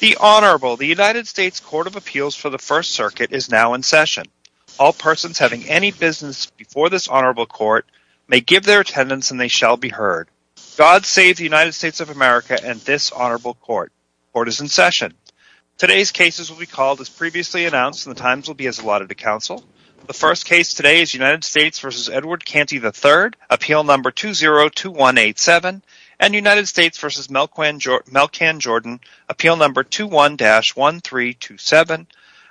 The Honorable, the United States Court of Appeals for the First Circuit is now in session. All persons having any business before this Honorable Court may give their attendance and they shall be heard. God save the United States of America and this Honorable Court. Court is in session. Today's cases will be called as previously announced and the times will be as allotted to counsel. The first case today is United States v. Edward Canty III, appeal number 202187 and United States v. Malkan Jordan, appeal number 21-1327.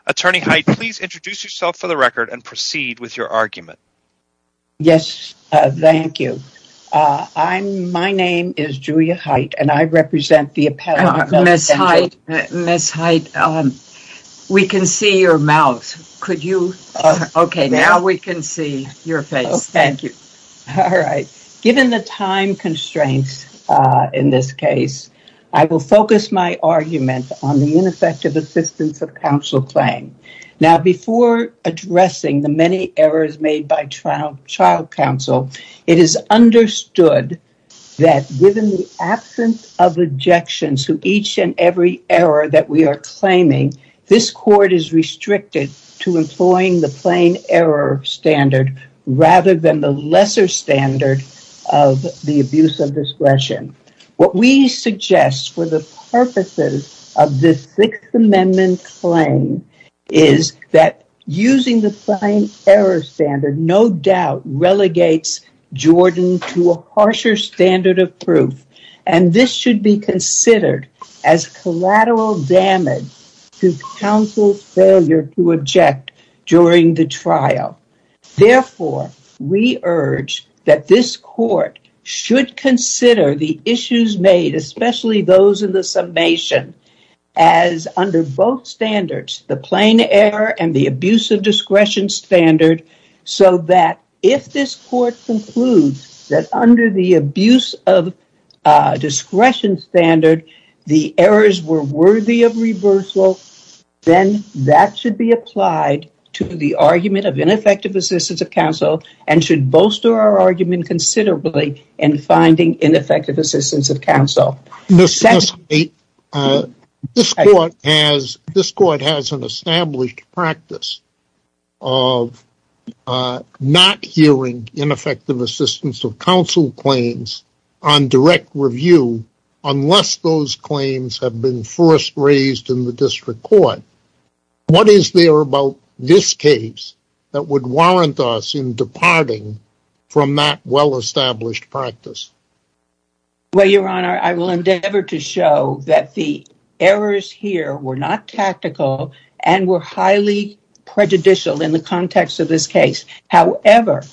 Attorney Hite, please introduce yourself for the record and proceed with your argument. Yes, thank you. My name is Julia Hite and I represent the Appellate Court. Ms. Hite, Ms. Hite, we can see your mouth. Could you? Okay, now we can see your face. Thank you. All right. Given the time constraints in this case, I will focus my argument on the ineffective assistance of counsel claim. Now, before addressing the many errors made by child counsel, it is understood that given the absence of objections to each and every error that we are claiming, this court is restricted to employing the plain error standard rather than the lesser standard of the abuse of discretion. What we suggest for the purposes of this Sixth Amendment claim is that using the plain error standard no doubt relegates Jordan to a harsher standard of proof and this should be considered as collateral damage to counsel's failure to object during the trial. Therefore, we urge that this court should consider the issues made, especially those in the summation, as under both standards, the plain error and the abuse of discretion standard, so that if this court concludes that under the abuse of discretion standard the errors were worthy of reversal, then that should be applied to the argument of ineffective assistance of counsel and should bolster our argument considerably in finding ineffective assistance of counsel. This court has an established practice of not hearing ineffective assistance of counsel claims on direct review unless those claims have been first raised in the district court. What is there about this case that would warrant us in departing from that well-established practice? Well, Your Honor, I will endeavor to show that the errors here were not tactical and were highly prejudicial in the context of this case. However,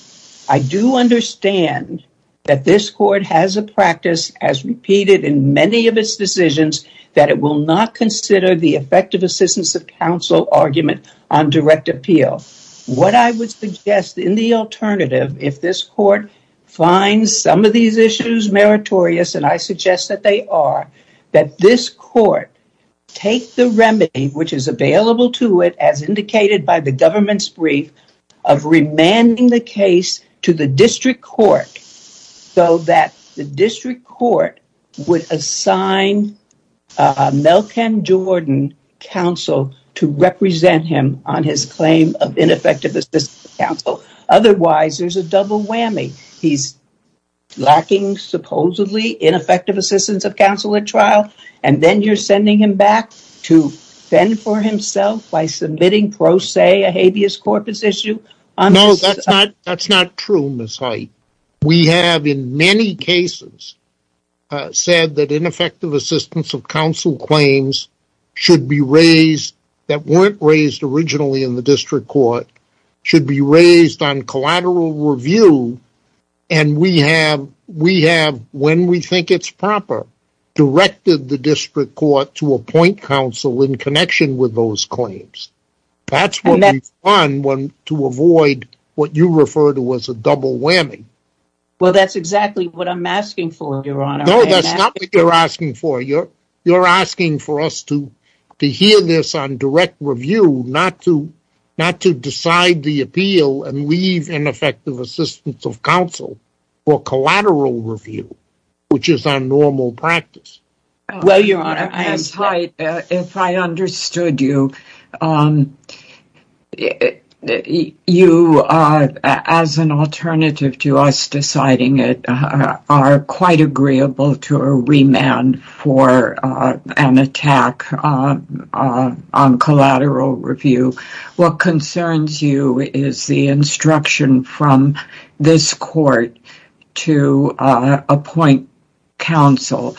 I do understand that this court has a practice as repeated in many of its decisions that it will not consider the effective assistance of counsel argument on direct appeal. What I would suggest in the alternative, if this court finds some of these issues meritorious, and I suggest that they are, that this court take the remedy which is available to it, as indicated by the government's brief, of remanding the case to the district court so that the district court would assign Melkin Jordan, counsel, to represent him on his claim of ineffective assistance of counsel. Otherwise, there's a double whammy. He's lacking, supposedly, ineffective assistance of counsel at trial, and then you're sending him back to fend for himself by submitting pro se a habeas corpus issue? No, that's not true, Ms. Hoyt. We have, in many cases, said that ineffective assistance of counsel claims should be raised that weren't raised originally in the district court, should be raised on collateral review, and we have, when we think it's proper, directed the district court to appoint counsel in connection with those claims. That's what we've done to avoid what you refer to as a double whammy. Well, that's exactly what I'm asking for, Your Honor. No, that's not what you're asking for. You're asking for us to hear this on direct review, not to decide the appeal and leave ineffective assistance of counsel for collateral review, which is our normal practice. Well, Your Honor, Ms. Hoyt, if I understood you, you, as an alternative to us deciding it, are quite agreeable to a remand for an attack on collateral review. What concerns you is the instruction from this court to appoint counsel,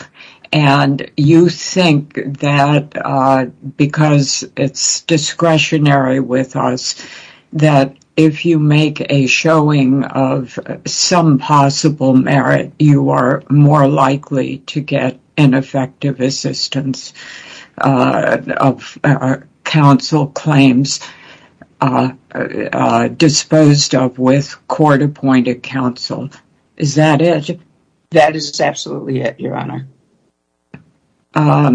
and you think that because it's discretionary with us that if you make a showing of some possible merit, that you are more likely to get ineffective assistance of counsel claims disposed of with court-appointed counsel. Is that it? That is absolutely it, Your Honor. All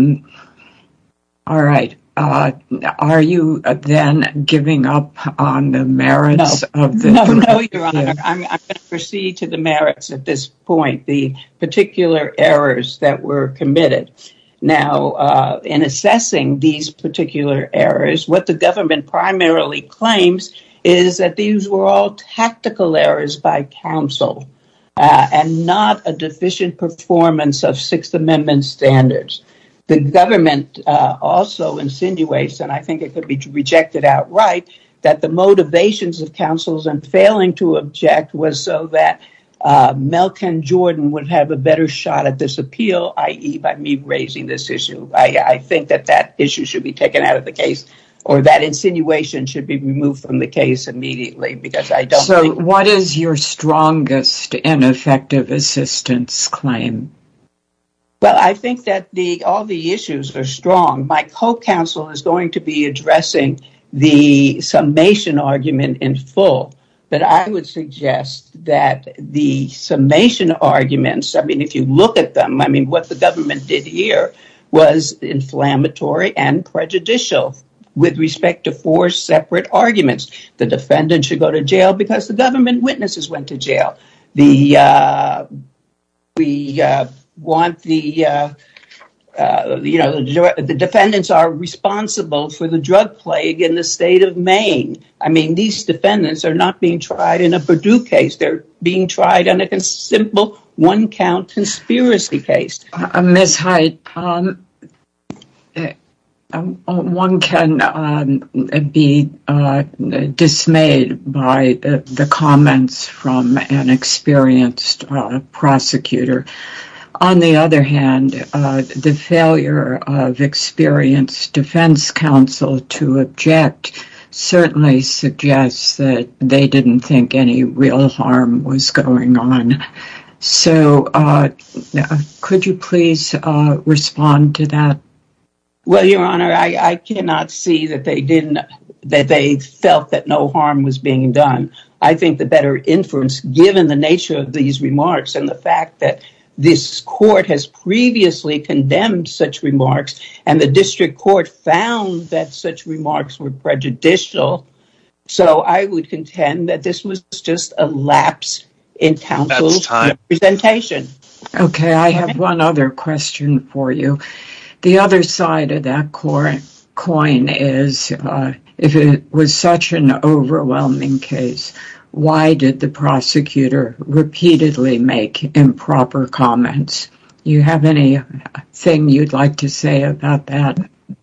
right. Are you then giving up on the merits of this? No, Your Honor. I'm going to proceed to the merits at this point, the particular errors that were committed. Now, in assessing these particular errors, what the government primarily claims is that these were all tactical errors by counsel and not a deficient performance of Sixth Amendment standards. The government also insinuates, and I think it could be rejected outright, that the motivations of counsels in failing to object was so that Melkin Jordan would have a better shot at this appeal, i.e., by me raising this issue. I think that that issue should be taken out of the case, or that insinuation should be removed from the case immediately because I don't think So what is your strongest ineffective assistance claim? Well, I think that all the issues are strong. My co-counsel is going to be addressing the summation argument in full, but I would suggest that the summation arguments, I mean, if you look at them, I mean, what the government did here was inflammatory and prejudicial with respect to four separate arguments. The defendant should go to jail because the government witnesses went to jail. The defendants are responsible for the drug plague in the state of Maine. I mean, these defendants are not being tried in a Purdue case. They're being tried in a simple one-count conspiracy case. Ms. Hite, one can be dismayed by the comments from an experienced prosecutor. On the other hand, the failure of experienced defense counsel to object certainly suggests that they didn't think any real harm was going on. So could you please respond to that? Well, Your Honor, I cannot see that they felt that no harm was being done. I think the better inference, given the nature of these remarks and the fact that this court has previously condemned such remarks and the district court found that such remarks were prejudicial, so I would contend that this was just a lapse in counsel's representation. Okay, I have one other question for you. The other side of that coin is, if it was such an overwhelming case, why did the prosecutor repeatedly make improper comments? Do you have anything you'd like to say about that?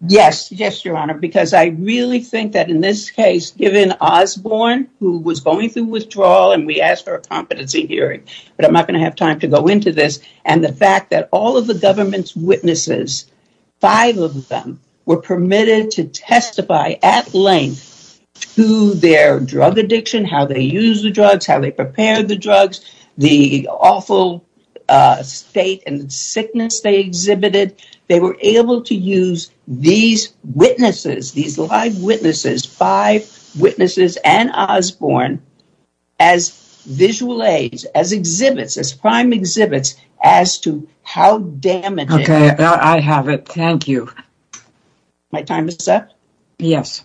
Yes, Your Honor, because I really think that in this case, given Osborne, who was going through withdrawal and we asked for a competency hearing, but I'm not going to have time to go into this, and the fact that all of the government's witnesses, five of them, were permitted to testify at length to their drug addiction, how they used the drugs, how they prepared the drugs, the awful state and sickness they exhibited. They were able to use these witnesses, these live witnesses, five witnesses and Osborne, as visual aids, as exhibits, as prime exhibits, as to how damaging... Okay, I have it. Thank you. My time is up? Yes.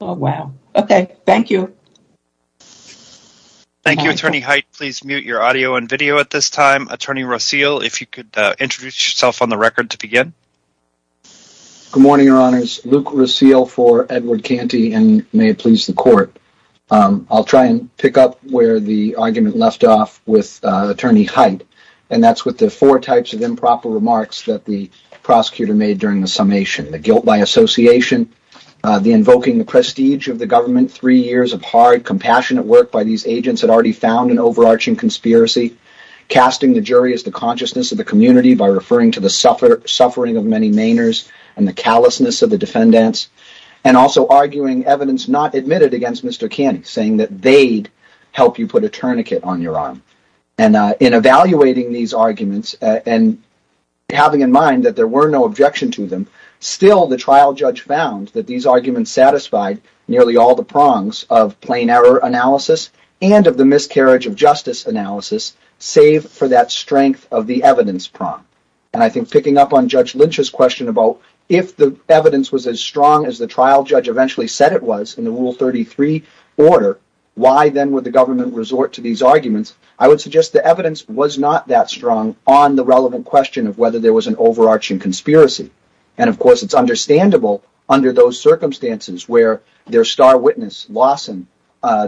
Oh, wow. Okay, thank you. Thank you, Attorney Hite. Please mute your audio and video at this time. Attorney Raseel, if you could introduce yourself on the record to begin. Good morning, Your Honors. Luke Raseel for Edward Canty, and may it please the Court. I'll try and pick up where the argument left off with Attorney Hite, and that's with the four types of improper remarks that the prosecutor made during the summation. The guilt by association, the invoking the prestige of the government, three years of hard, compassionate work by these agents had already found an overarching conspiracy, casting the jury as the consciousness of the community by referring to the suffering of many Mainers and the callousness of the defendants, and also arguing evidence not admitted against Mr. Canty, saying that they'd help you put a tourniquet on your arm. And in evaluating these arguments and having in mind that there were no objection to them, still the trial judge found that these arguments satisfied nearly all the prongs of plain error analysis and of the miscarriage of justice analysis, save for that strength of the evidence prong. And I think picking up on Judge Lynch's question about if the evidence was as strong as the trial judge eventually said it was in the Rule 33 order, why then would the government resort to these arguments? I would suggest the evidence was not that strong on the relevant question of whether there was an overarching conspiracy. And of course, it's understandable under those circumstances where their star witness, Lawson,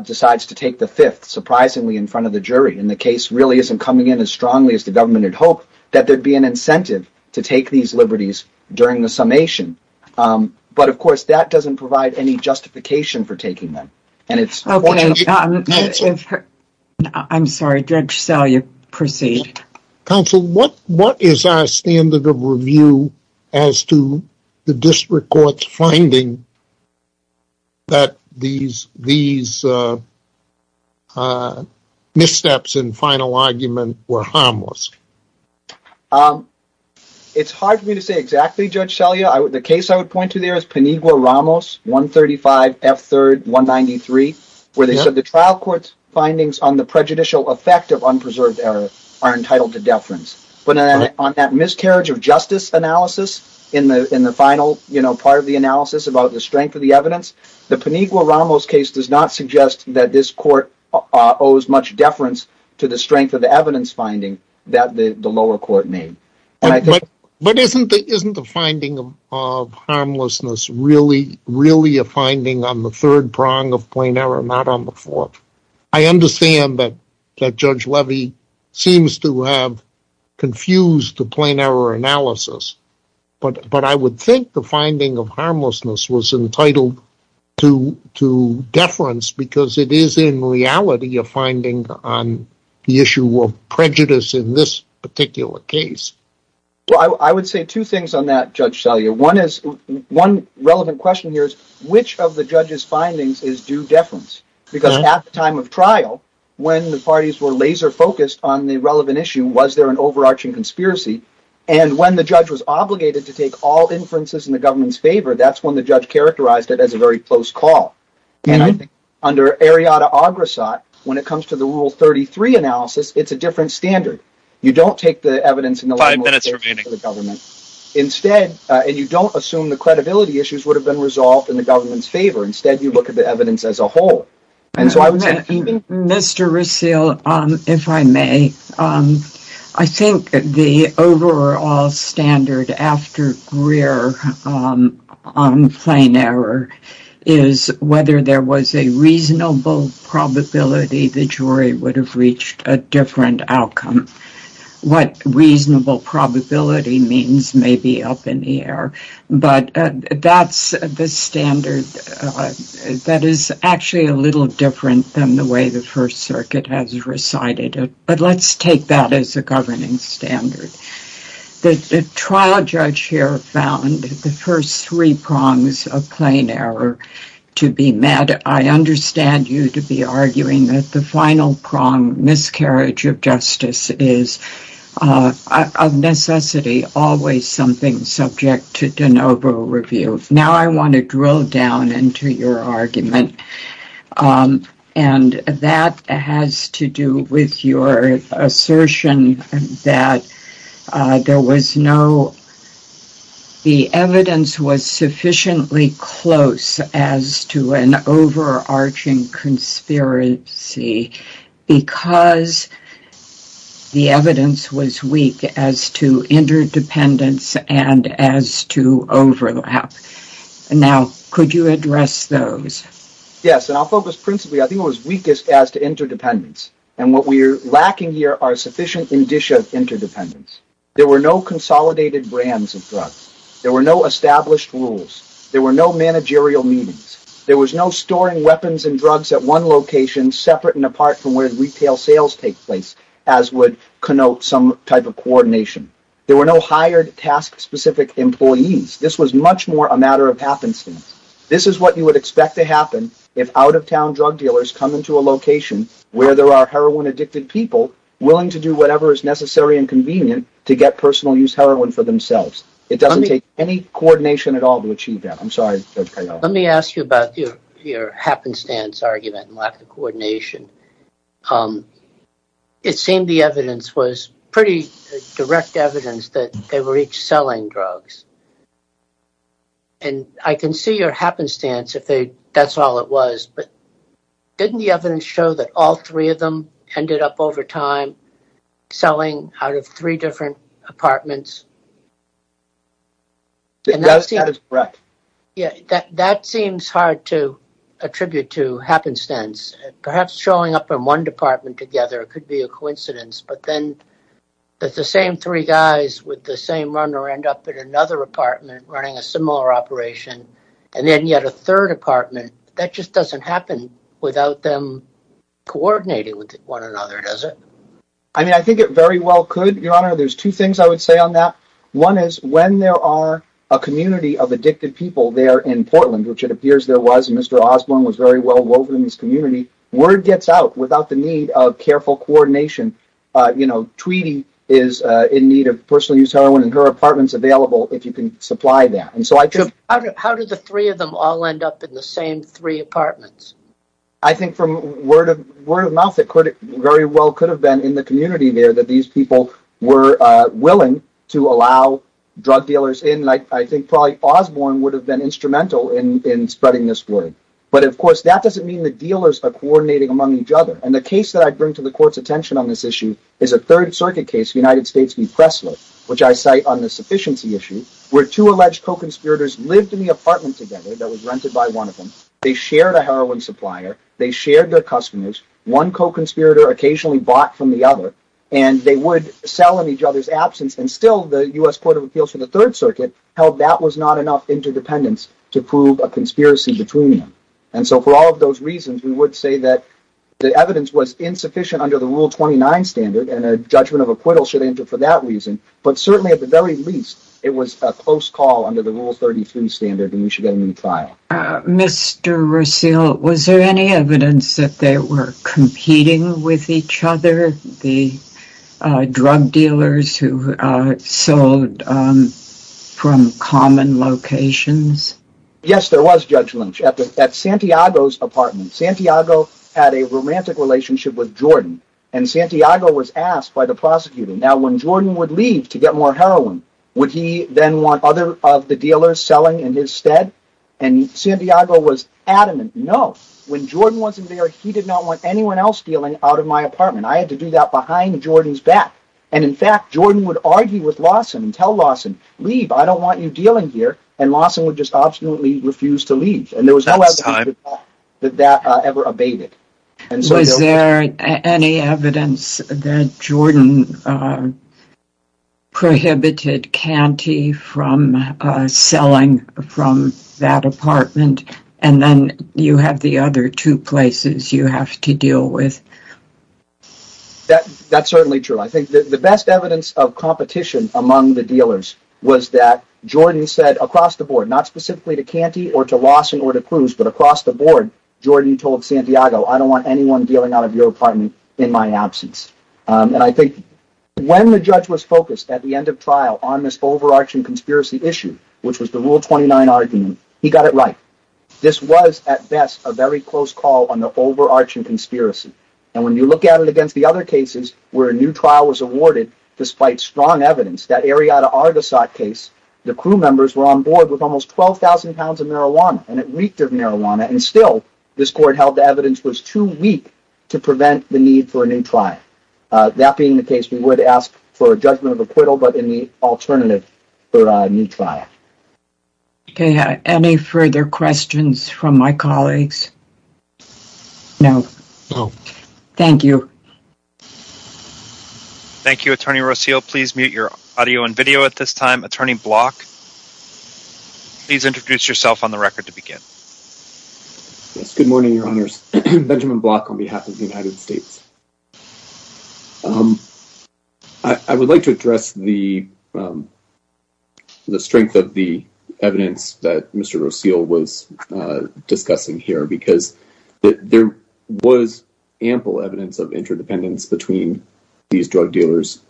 decides to take the fifth surprisingly in front of the jury, and the case really isn't coming in as strongly as the government had hoped, that there'd be an incentive to take these liberties during the summation. But, of course, that doesn't provide any justification for taking them. I'm sorry, Judge Sell, you proceed. Counsel, what is our standard of review as to the district court's finding that these missteps in final argument were harmless? It's hard for me to say exactly, Judge Selya. The case I would point to there is Penigua-Ramos, 135 F. 3rd, 193, where they said the trial court's findings on the prejudicial effect of unpreserved error are entitled to deference. But on that miscarriage of justice analysis in the final part of the analysis about the strength of the evidence, the Penigua-Ramos case does not suggest that this court owes much deference to the strength of the evidence finding that the lower court made. But isn't the finding of harmlessness really a finding on the third prong of plain error, not on the fourth? I understand that Judge Levy seems to have confused the plain error analysis, but I would think the finding of harmlessness was entitled to deference because it is in reality a finding on the issue of prejudice in this particular case. I would say two things on that, Judge Selya. One relevant question here is, which of the judges' findings is due deference? Because at the time of trial, when the parties were laser-focused on the relevant issue, was there an overarching conspiracy? And when the judge was obligated to take all inferences in the government's favor, that's when the judge characterized it as a very close call. And I think under Ariadna-Agrassat, when it comes to the Rule 33 analysis, it's a different standard. You don't take the evidence in the government's favor, and you don't assume the credibility issues would have been resolved in the government's favor. Instead, you look at the evidence as a whole. Mr. Rasil, if I may, I think the overall standard after Greer on plain error is whether there was a reasonable probability the jury would have reached a different outcome. What reasonable probability means may be up in the air. But that's the standard that is actually a little different than the way the First Circuit has recited it. But let's take that as a governing standard. The trial judge here found the first three prongs of plain error to be met. And I understand you to be arguing that the final prong, miscarriage of justice, is a necessity, always something subject to de novo review. Now I want to drill down into your argument. And that has to do with your assertion that the evidence was sufficiently close as to an overarching conspiracy because the evidence was weak as to interdependence and as to overlap. Now, could you address those? Yes, and I'll focus principally, I think it was weakest as to interdependence. And what we're lacking here are sufficient indicia of interdependence. There were no consolidated brands of drugs. There were no established rules. There were no managerial meetings. There was no storing weapons and drugs at one location separate and apart from where retail sales take place, as would connote some type of coordination. There were no hired task-specific employees. This was much more a matter of happenstance. This is what you would expect to happen if out-of-town drug dealers come into a location where there are heroin-addicted people willing to do whatever is necessary and convenient to get personal use heroin for themselves. It doesn't take any coordination at all to achieve that. I'm sorry. Let me ask you about your happenstance argument and lack of coordination. It seemed the evidence was pretty direct evidence that they were each selling drugs. And I can see your happenstance if that's all it was, but didn't the evidence show that all three of them ended up over time selling out of three different apartments? That is correct. That seems hard to attribute to happenstance. Perhaps showing up in one department together could be a coincidence, but then the same three guys with the same runner end up in another apartment running a similar operation, and then yet a third apartment. That just doesn't happen without them coordinating with one another, does it? I mean, I think it very well could, Your Honor. There's two things I would say on that. One is when there are a community of addicted people there in Portland, which it appears there was. Mr. Osborne was very well woven in this community. Word gets out without the need of careful coordination. Tweedy is in need of personal use heroin, and her apartment is available if you can supply that. How did the three of them all end up in the same three apartments? I think from word of mouth, it very well could have been in the community there that these people were willing to allow drug dealers in. I think probably Osborne would have been instrumental in spreading this word. But, of course, that doesn't mean the dealers are coordinating among each other. And the case that I bring to the Court's attention on this issue is a Third Circuit case, United States v. Pressler, which I cite on the sufficiency issue, where two alleged co-conspirators lived in the apartment together that was rented by one of them. They shared a heroin supplier. They shared their customers. One co-conspirator occasionally bought from the other, and they would sell in each other's absence. And still, the U.S. Court of Appeals for the Third Circuit held that was not enough interdependence to prove a conspiracy between them. And so for all of those reasons, we would say that the evidence was insufficient under the Rule 29 standard, and a judgment of acquittal should enter for that reason. But certainly, at the very least, it was a close call under the Rule 33 standard, and we should get a new trial. Mr. Russell, was there any evidence that they were competing with each other, the drug dealers who sold from common locations? Yes, there was judgment. At Santiago's apartment, Santiago had a romantic relationship with Jordan, and Santiago was asked by the prosecutor, Now, when Jordan would leave to get more heroin, would he then want other of the dealers selling in his stead? And Santiago was adamant, no. When Jordan wasn't there, he did not want anyone else dealing out of my apartment. I had to do that behind Jordan's back. And in fact, Jordan would argue with Lawson and tell Lawson, leave. I don't want you dealing here. And Lawson would just obstinately refuse to leave, and there was no evidence that that ever abated. Was there any evidence that Jordan prohibited Canty from selling from that apartment, and then you have the other two places you have to deal with? That's certainly true. I think the best evidence of competition among the dealers was that Jordan said across the board, not specifically to Canty or to Lawson or to Cruz, but across the board, Jordan told Santiago, I don't want anyone dealing out of your apartment in my absence. And I think when the judge was focused at the end of trial on this overarching conspiracy issue, which was the Rule 29 argument, he got it right. This was, at best, a very close call on the overarching conspiracy. And when you look at it against the other cases where a new trial was awarded, despite strong evidence, that Arrieta Argasot case, the crew members were on board with almost 12,000 pounds of marijuana, and it reeked of marijuana, and still, this court held the evidence was too weak to prevent the need for a new trial. That being the case, we would ask for a judgment of acquittal, but in the alternative for a new trial. Okay. Any further questions from my colleagues? No? No. Thank you. Thank you, Attorney Rocio. Please mute your audio and video at this time. Attorney Block, please introduce yourself on the record to begin. Yes. Good morning, Your Honors. Benjamin Block on behalf of the United States. I would like to address the strength of the evidence that Mr. Rocio was discussing here, because there was ample evidence of interdependence between these drug dealers.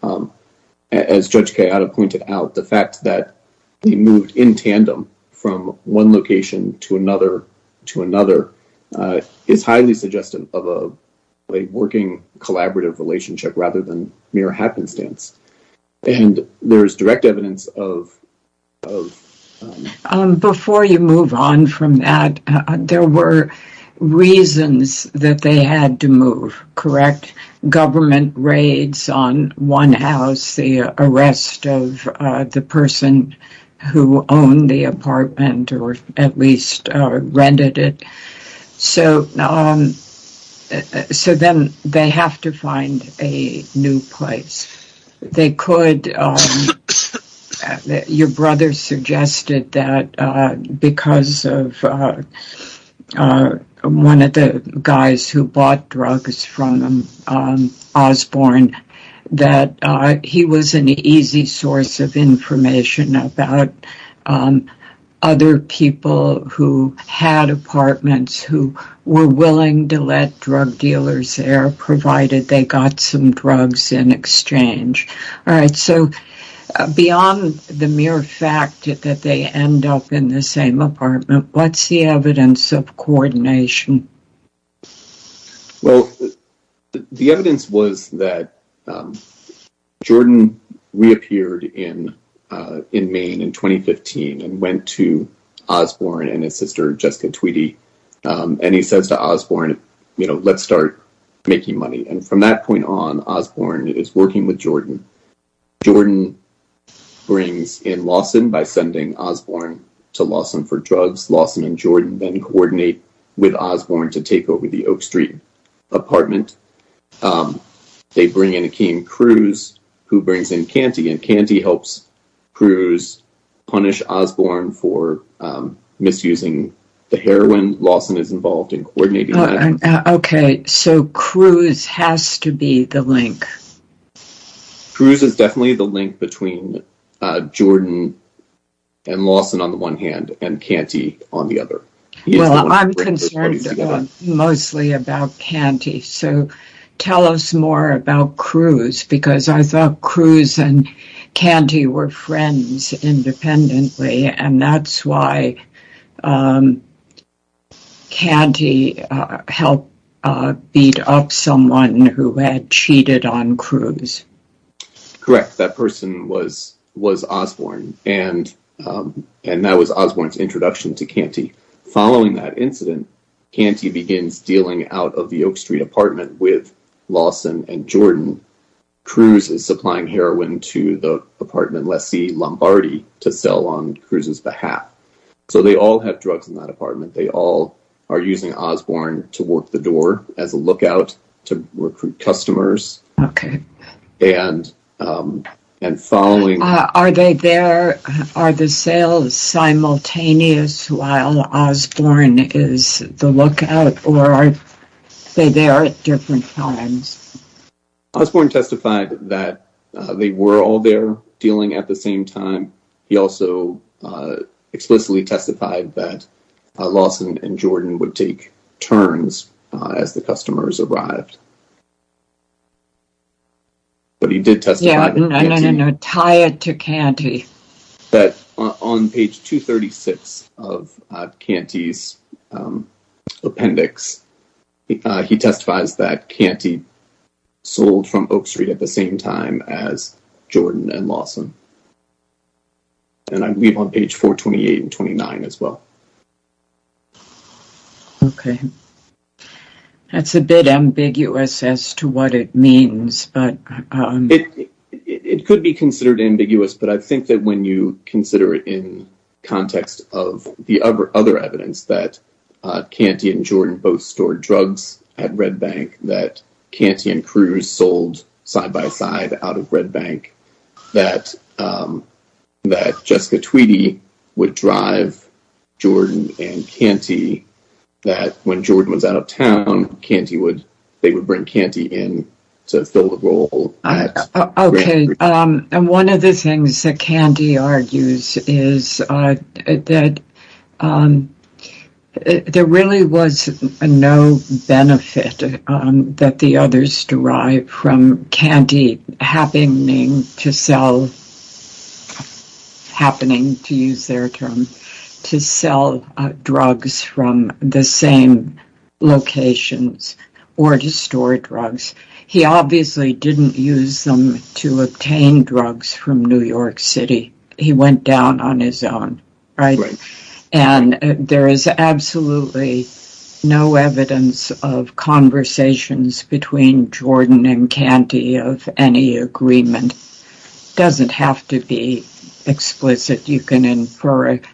As Judge Kayada pointed out, the fact that they moved in tandem from one location to another, to another, is highly suggestive of a working collaborative relationship rather than mere happenstance. And there's direct evidence of... Before you move on from that, there were reasons that they had to move, correct? Government raids on one house, the arrest of the person who owned the apartment or at least rented it. So then they have to find a new place. They could. Your brother suggested that because of one of the guys who bought drugs from Osborne, that he was an easy source of information about other people who had apartments, who were willing to let drug dealers there, provided they got some drugs in exchange. All right. So beyond the mere fact that they end up in the same apartment, what's the evidence of coordination? Well, the evidence was that Jordan reappeared in Maine in 2015 and went to Osborne and his sister, Jessica Tweedy. And he says to Osborne, you know, let's start making money. And from that point on, Osborne is working with Jordan. Jordan brings in Lawson by sending Osborne to Lawson for drugs. Lawson and Jordan then coordinate with Osborne to take over the Oak Street apartment. They bring in Akeem Cruz, who brings in Canty. And Canty helps Cruz punish Osborne for misusing the heroin. Lawson is involved in coordinating that. OK. So Cruz has to be the link. Cruz is definitely the link between Jordan and Lawson on the one hand and Canty on the other. Well, I'm concerned mostly about Canty. So tell us more about Cruz, because I thought Cruz and Canty were friends independently. And that's why Canty helped beat up someone who had cheated on Cruz. Correct. That person was Osborne. And that was Osborne's introduction to Canty. Following that incident, Canty begins dealing out of the Oak Street apartment with Lawson and Jordan. Cruz is supplying heroin to the apartment lessee Lombardi to sell on Cruz's behalf. So they all have drugs in that apartment. They all are using Osborne to work the door as a lookout to recruit customers. OK. Are the sales simultaneous while Osborne is the lookout, or are they there at different times? Osborne testified that they were all there dealing at the same time. He also explicitly testified that Lawson and Jordan would take turns as the customers arrived. Tie it to Canty. On page 236 of Canty's appendix, he testifies that Canty sold from Oak Street at the same time as Jordan and Lawson. And I believe on page 428 and 429 as well. OK. That's a bit ambiguous as to what it means, but... It could be considered ambiguous, but I think that when you consider it in context of the other evidence, that Canty and Jordan both stored drugs at Red Bank, that Canty and Cruz sold side by side out of Red Bank, that Jessica Tweedy would drive Jordan and Canty, that when Jordan was out of town, they would bring Canty in to fill the role. OK. And one of the things that Canty argues is that there really was no benefit that the others derived from Canty happening to sell, happening to use their term, to sell drugs from the same locations or to store drugs. He obviously didn't use them to obtain drugs from New York City. He went down on his own. Right. And there is absolutely no evidence of conversations between Jordan and Canty of any agreement. It doesn't have to be explicit. You can infer it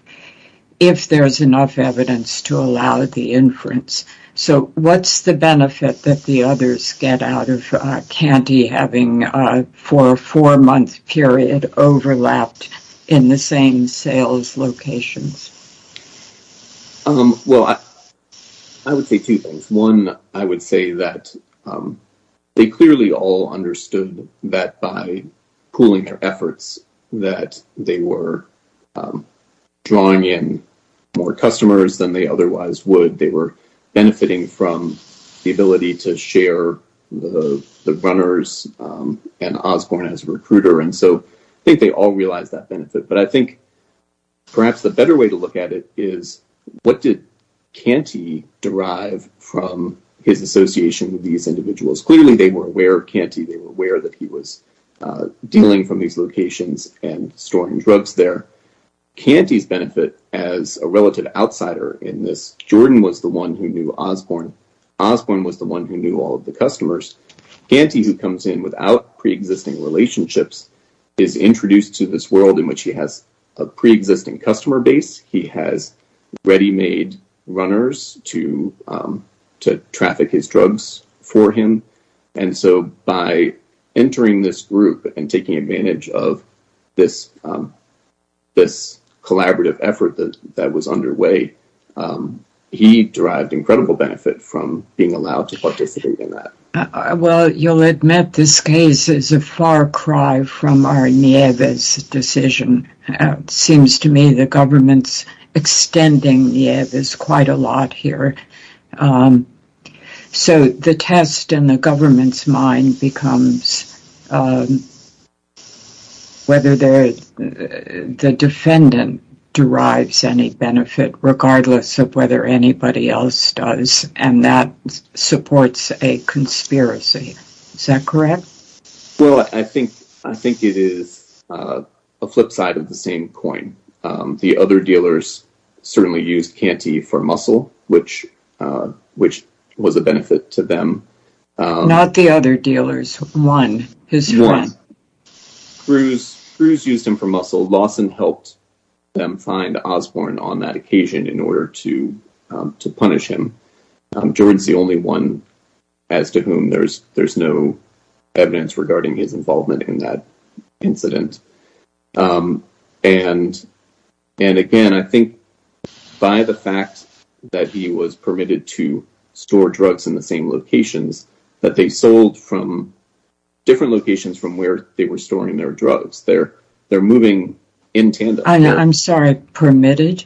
if there's enough evidence to allow the inference. So what's the benefit that the others get out of Canty having a four-month period overlapped in the same sales locations? Well, I would say two things. One, I would say that they clearly all understood that by pooling their efforts, that they were drawing in more customers than they otherwise would. They were benefiting from the ability to share the runners and Osborne as a recruiter. And so I think they all realized that benefit. But I think perhaps the better way to look at it is what did Canty derive from his association with these individuals? Clearly, they were aware of Canty. They were aware that he was dealing from these locations and storing drugs there. Canty's benefit as a relative outsider in this, Jordan was the one who knew Osborne. Osborne was the one who knew all of the customers. Canty, who comes in without preexisting relationships, is introduced to this world in which he has a preexisting customer base. He has ready-made runners to traffic his drugs for him. And so by entering this group and taking advantage of this collaborative effort that was underway, he derived incredible benefit from being allowed to participate in that. Well, you'll admit this case is a far cry from our Nieves decision. It seems to me the government's extending Nieves is quite a lot here. So the test in the government's mind becomes whether the defendant derives any benefit regardless of whether anybody else does. And that supports a conspiracy. Is that correct? Well, I think it is a flip side of the same coin. The other dealers certainly used Canty for muscle, which was a benefit to them. Not the other dealers, one. Cruz used him for muscle. Lawson helped them find Osborne on that occasion in order to punish him. Jordan's the only one as to whom there's no evidence regarding his involvement in that incident. And again, I think by the fact that he was permitted to store drugs in the same locations, that they sold from different locations from where they were storing their drugs. They're moving in tandem. I'm sorry, permitted?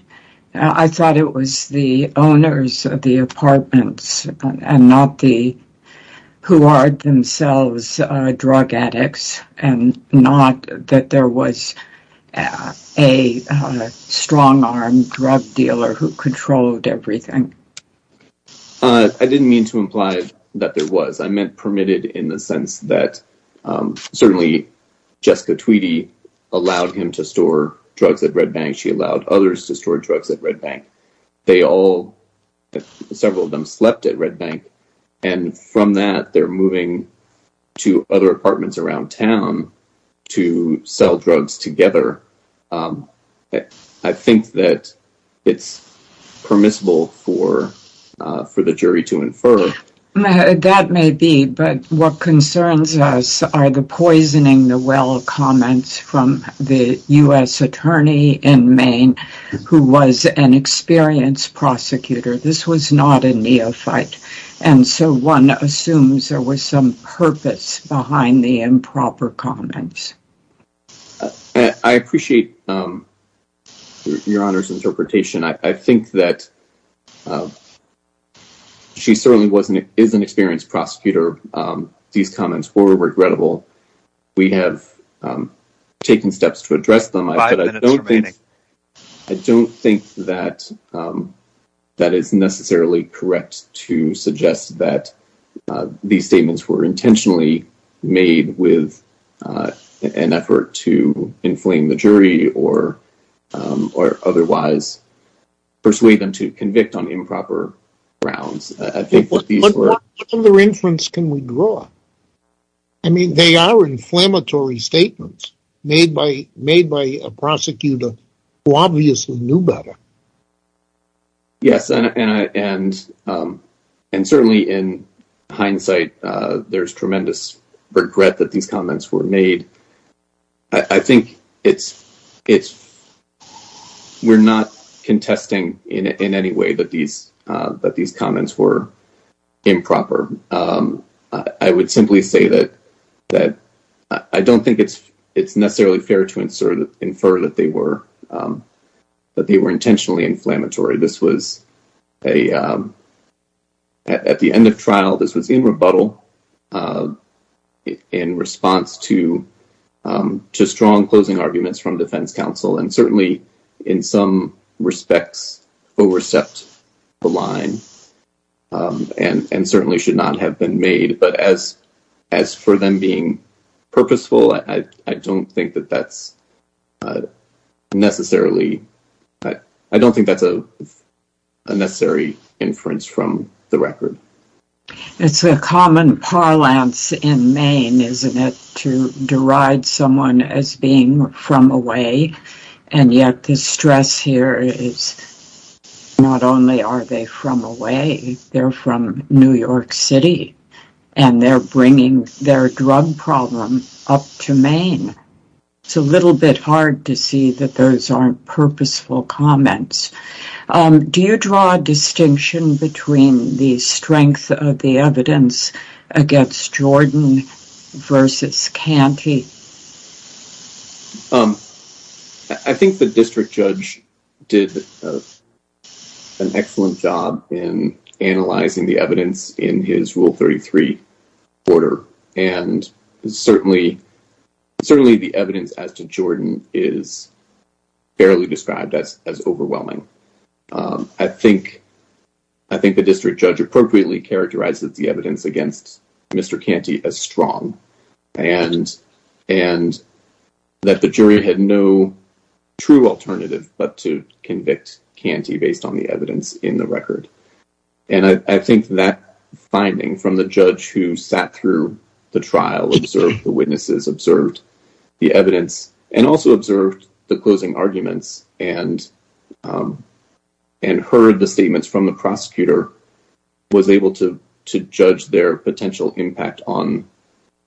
I thought it was the owners of the apartments and not the, who are themselves drug addicts, and not that there was a strong-armed drug dealer who controlled everything. I didn't mean to imply that there was. I meant permitted in the sense that certainly Jessica Tweedy allowed him to store drugs at Red Bank. She allowed others to store drugs at Red Bank. They all, several of them, slept at Red Bank. And from that, they're moving to other apartments around town to sell drugs together. I think that it's permissible for the jury to infer. That may be, but what concerns us are the poisoning the well comments from the U.S. attorney in Maine who was an experienced prosecutor. This was not a neophyte. And so one assumes there was some purpose behind the improper comments. I appreciate Your Honor's interpretation. I think that she certainly is an experienced prosecutor. These comments were regrettable. We have taken steps to address them. Five minutes remaining. I don't think that that is necessarily correct to suggest that these statements were intentionally made with an effort to inflame the jury or otherwise persuade them to convict on improper grounds. What other inference can we draw? I mean, they are inflammatory statements made by a prosecutor who obviously knew better. Yes, and certainly in hindsight, there's tremendous regret that these comments were made. I think we're not contesting in any way that these comments were improper. I would simply say that I don't think it's necessarily fair to infer that they were that they were intentionally inflammatory. This was a at the end of trial. This was in rebuttal in response to just strong closing arguments from defense counsel. And certainly in some respects, overstepped the line and certainly should not have been made. But as as for them being purposeful, I don't think that that's necessarily I don't think that's a necessary inference from the record. It's a common parlance in Maine, isn't it, to deride someone as being from away. And yet the stress here is not only are they from away, they're from New York City. And they're bringing their drug problem up to Maine. It's a little bit hard to see that those aren't purposeful comments. Do you draw a distinction between the strength of the evidence against Jordan versus Canty? I think the district judge did an excellent job in analyzing the evidence in his Rule 33 order. And certainly, certainly the evidence as to Jordan is fairly described as overwhelming. I think I think the district judge appropriately characterizes the evidence against Mr. Canty as strong and and that the jury had no true alternative but to convict Canty based on the evidence in the record. And I think that finding from the judge who sat through the trial observed the witnesses observed the evidence and also observed the closing arguments and and heard the statements from the prosecutor was able to to judge their potential impact on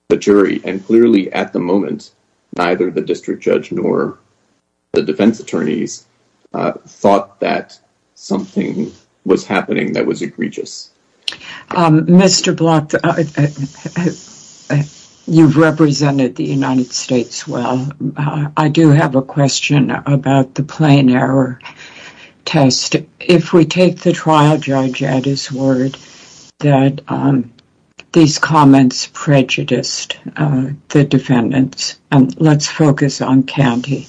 the jury. And clearly at the moment, neither the district judge nor the defense attorneys thought that something was happening that was egregious. Mr. Blatt, you've represented the United States well. I do have a question about the plain error test. If we take the trial judge at his word that these comments prejudiced the defendants, let's focus on Canty.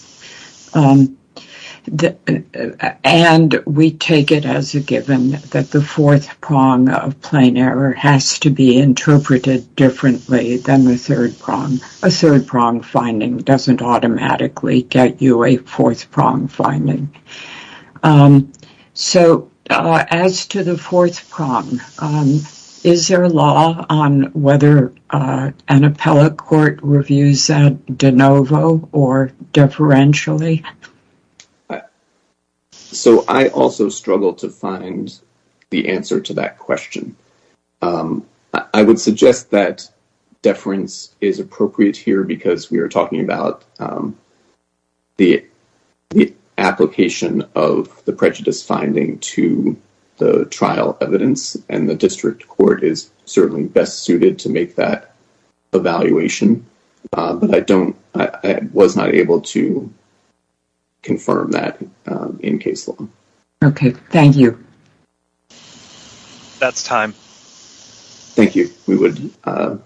And we take it as a given that the fourth prong of plain error has to be interpreted differently than the third prong. A third prong finding doesn't automatically get you a fourth prong finding. So as to the fourth prong, is there a law on whether an appellate court reviews that de novo or deferentially? So I also struggle to find the answer to that question. I would suggest that deference is appropriate here because we are talking about the application of the prejudice finding to the trial evidence. And the district court is certainly best suited to make that evaluation. But I don't I was not able to confirm that in case law. OK, thank you. That's time. Thank you. We would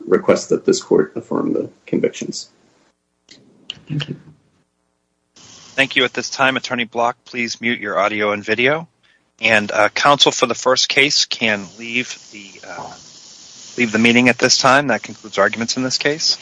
request that this court affirm the convictions. Thank you at this time. Attorney Block, please mute your audio and video and counsel for the first case can leave the leave the meeting at this time. That concludes arguments in this case.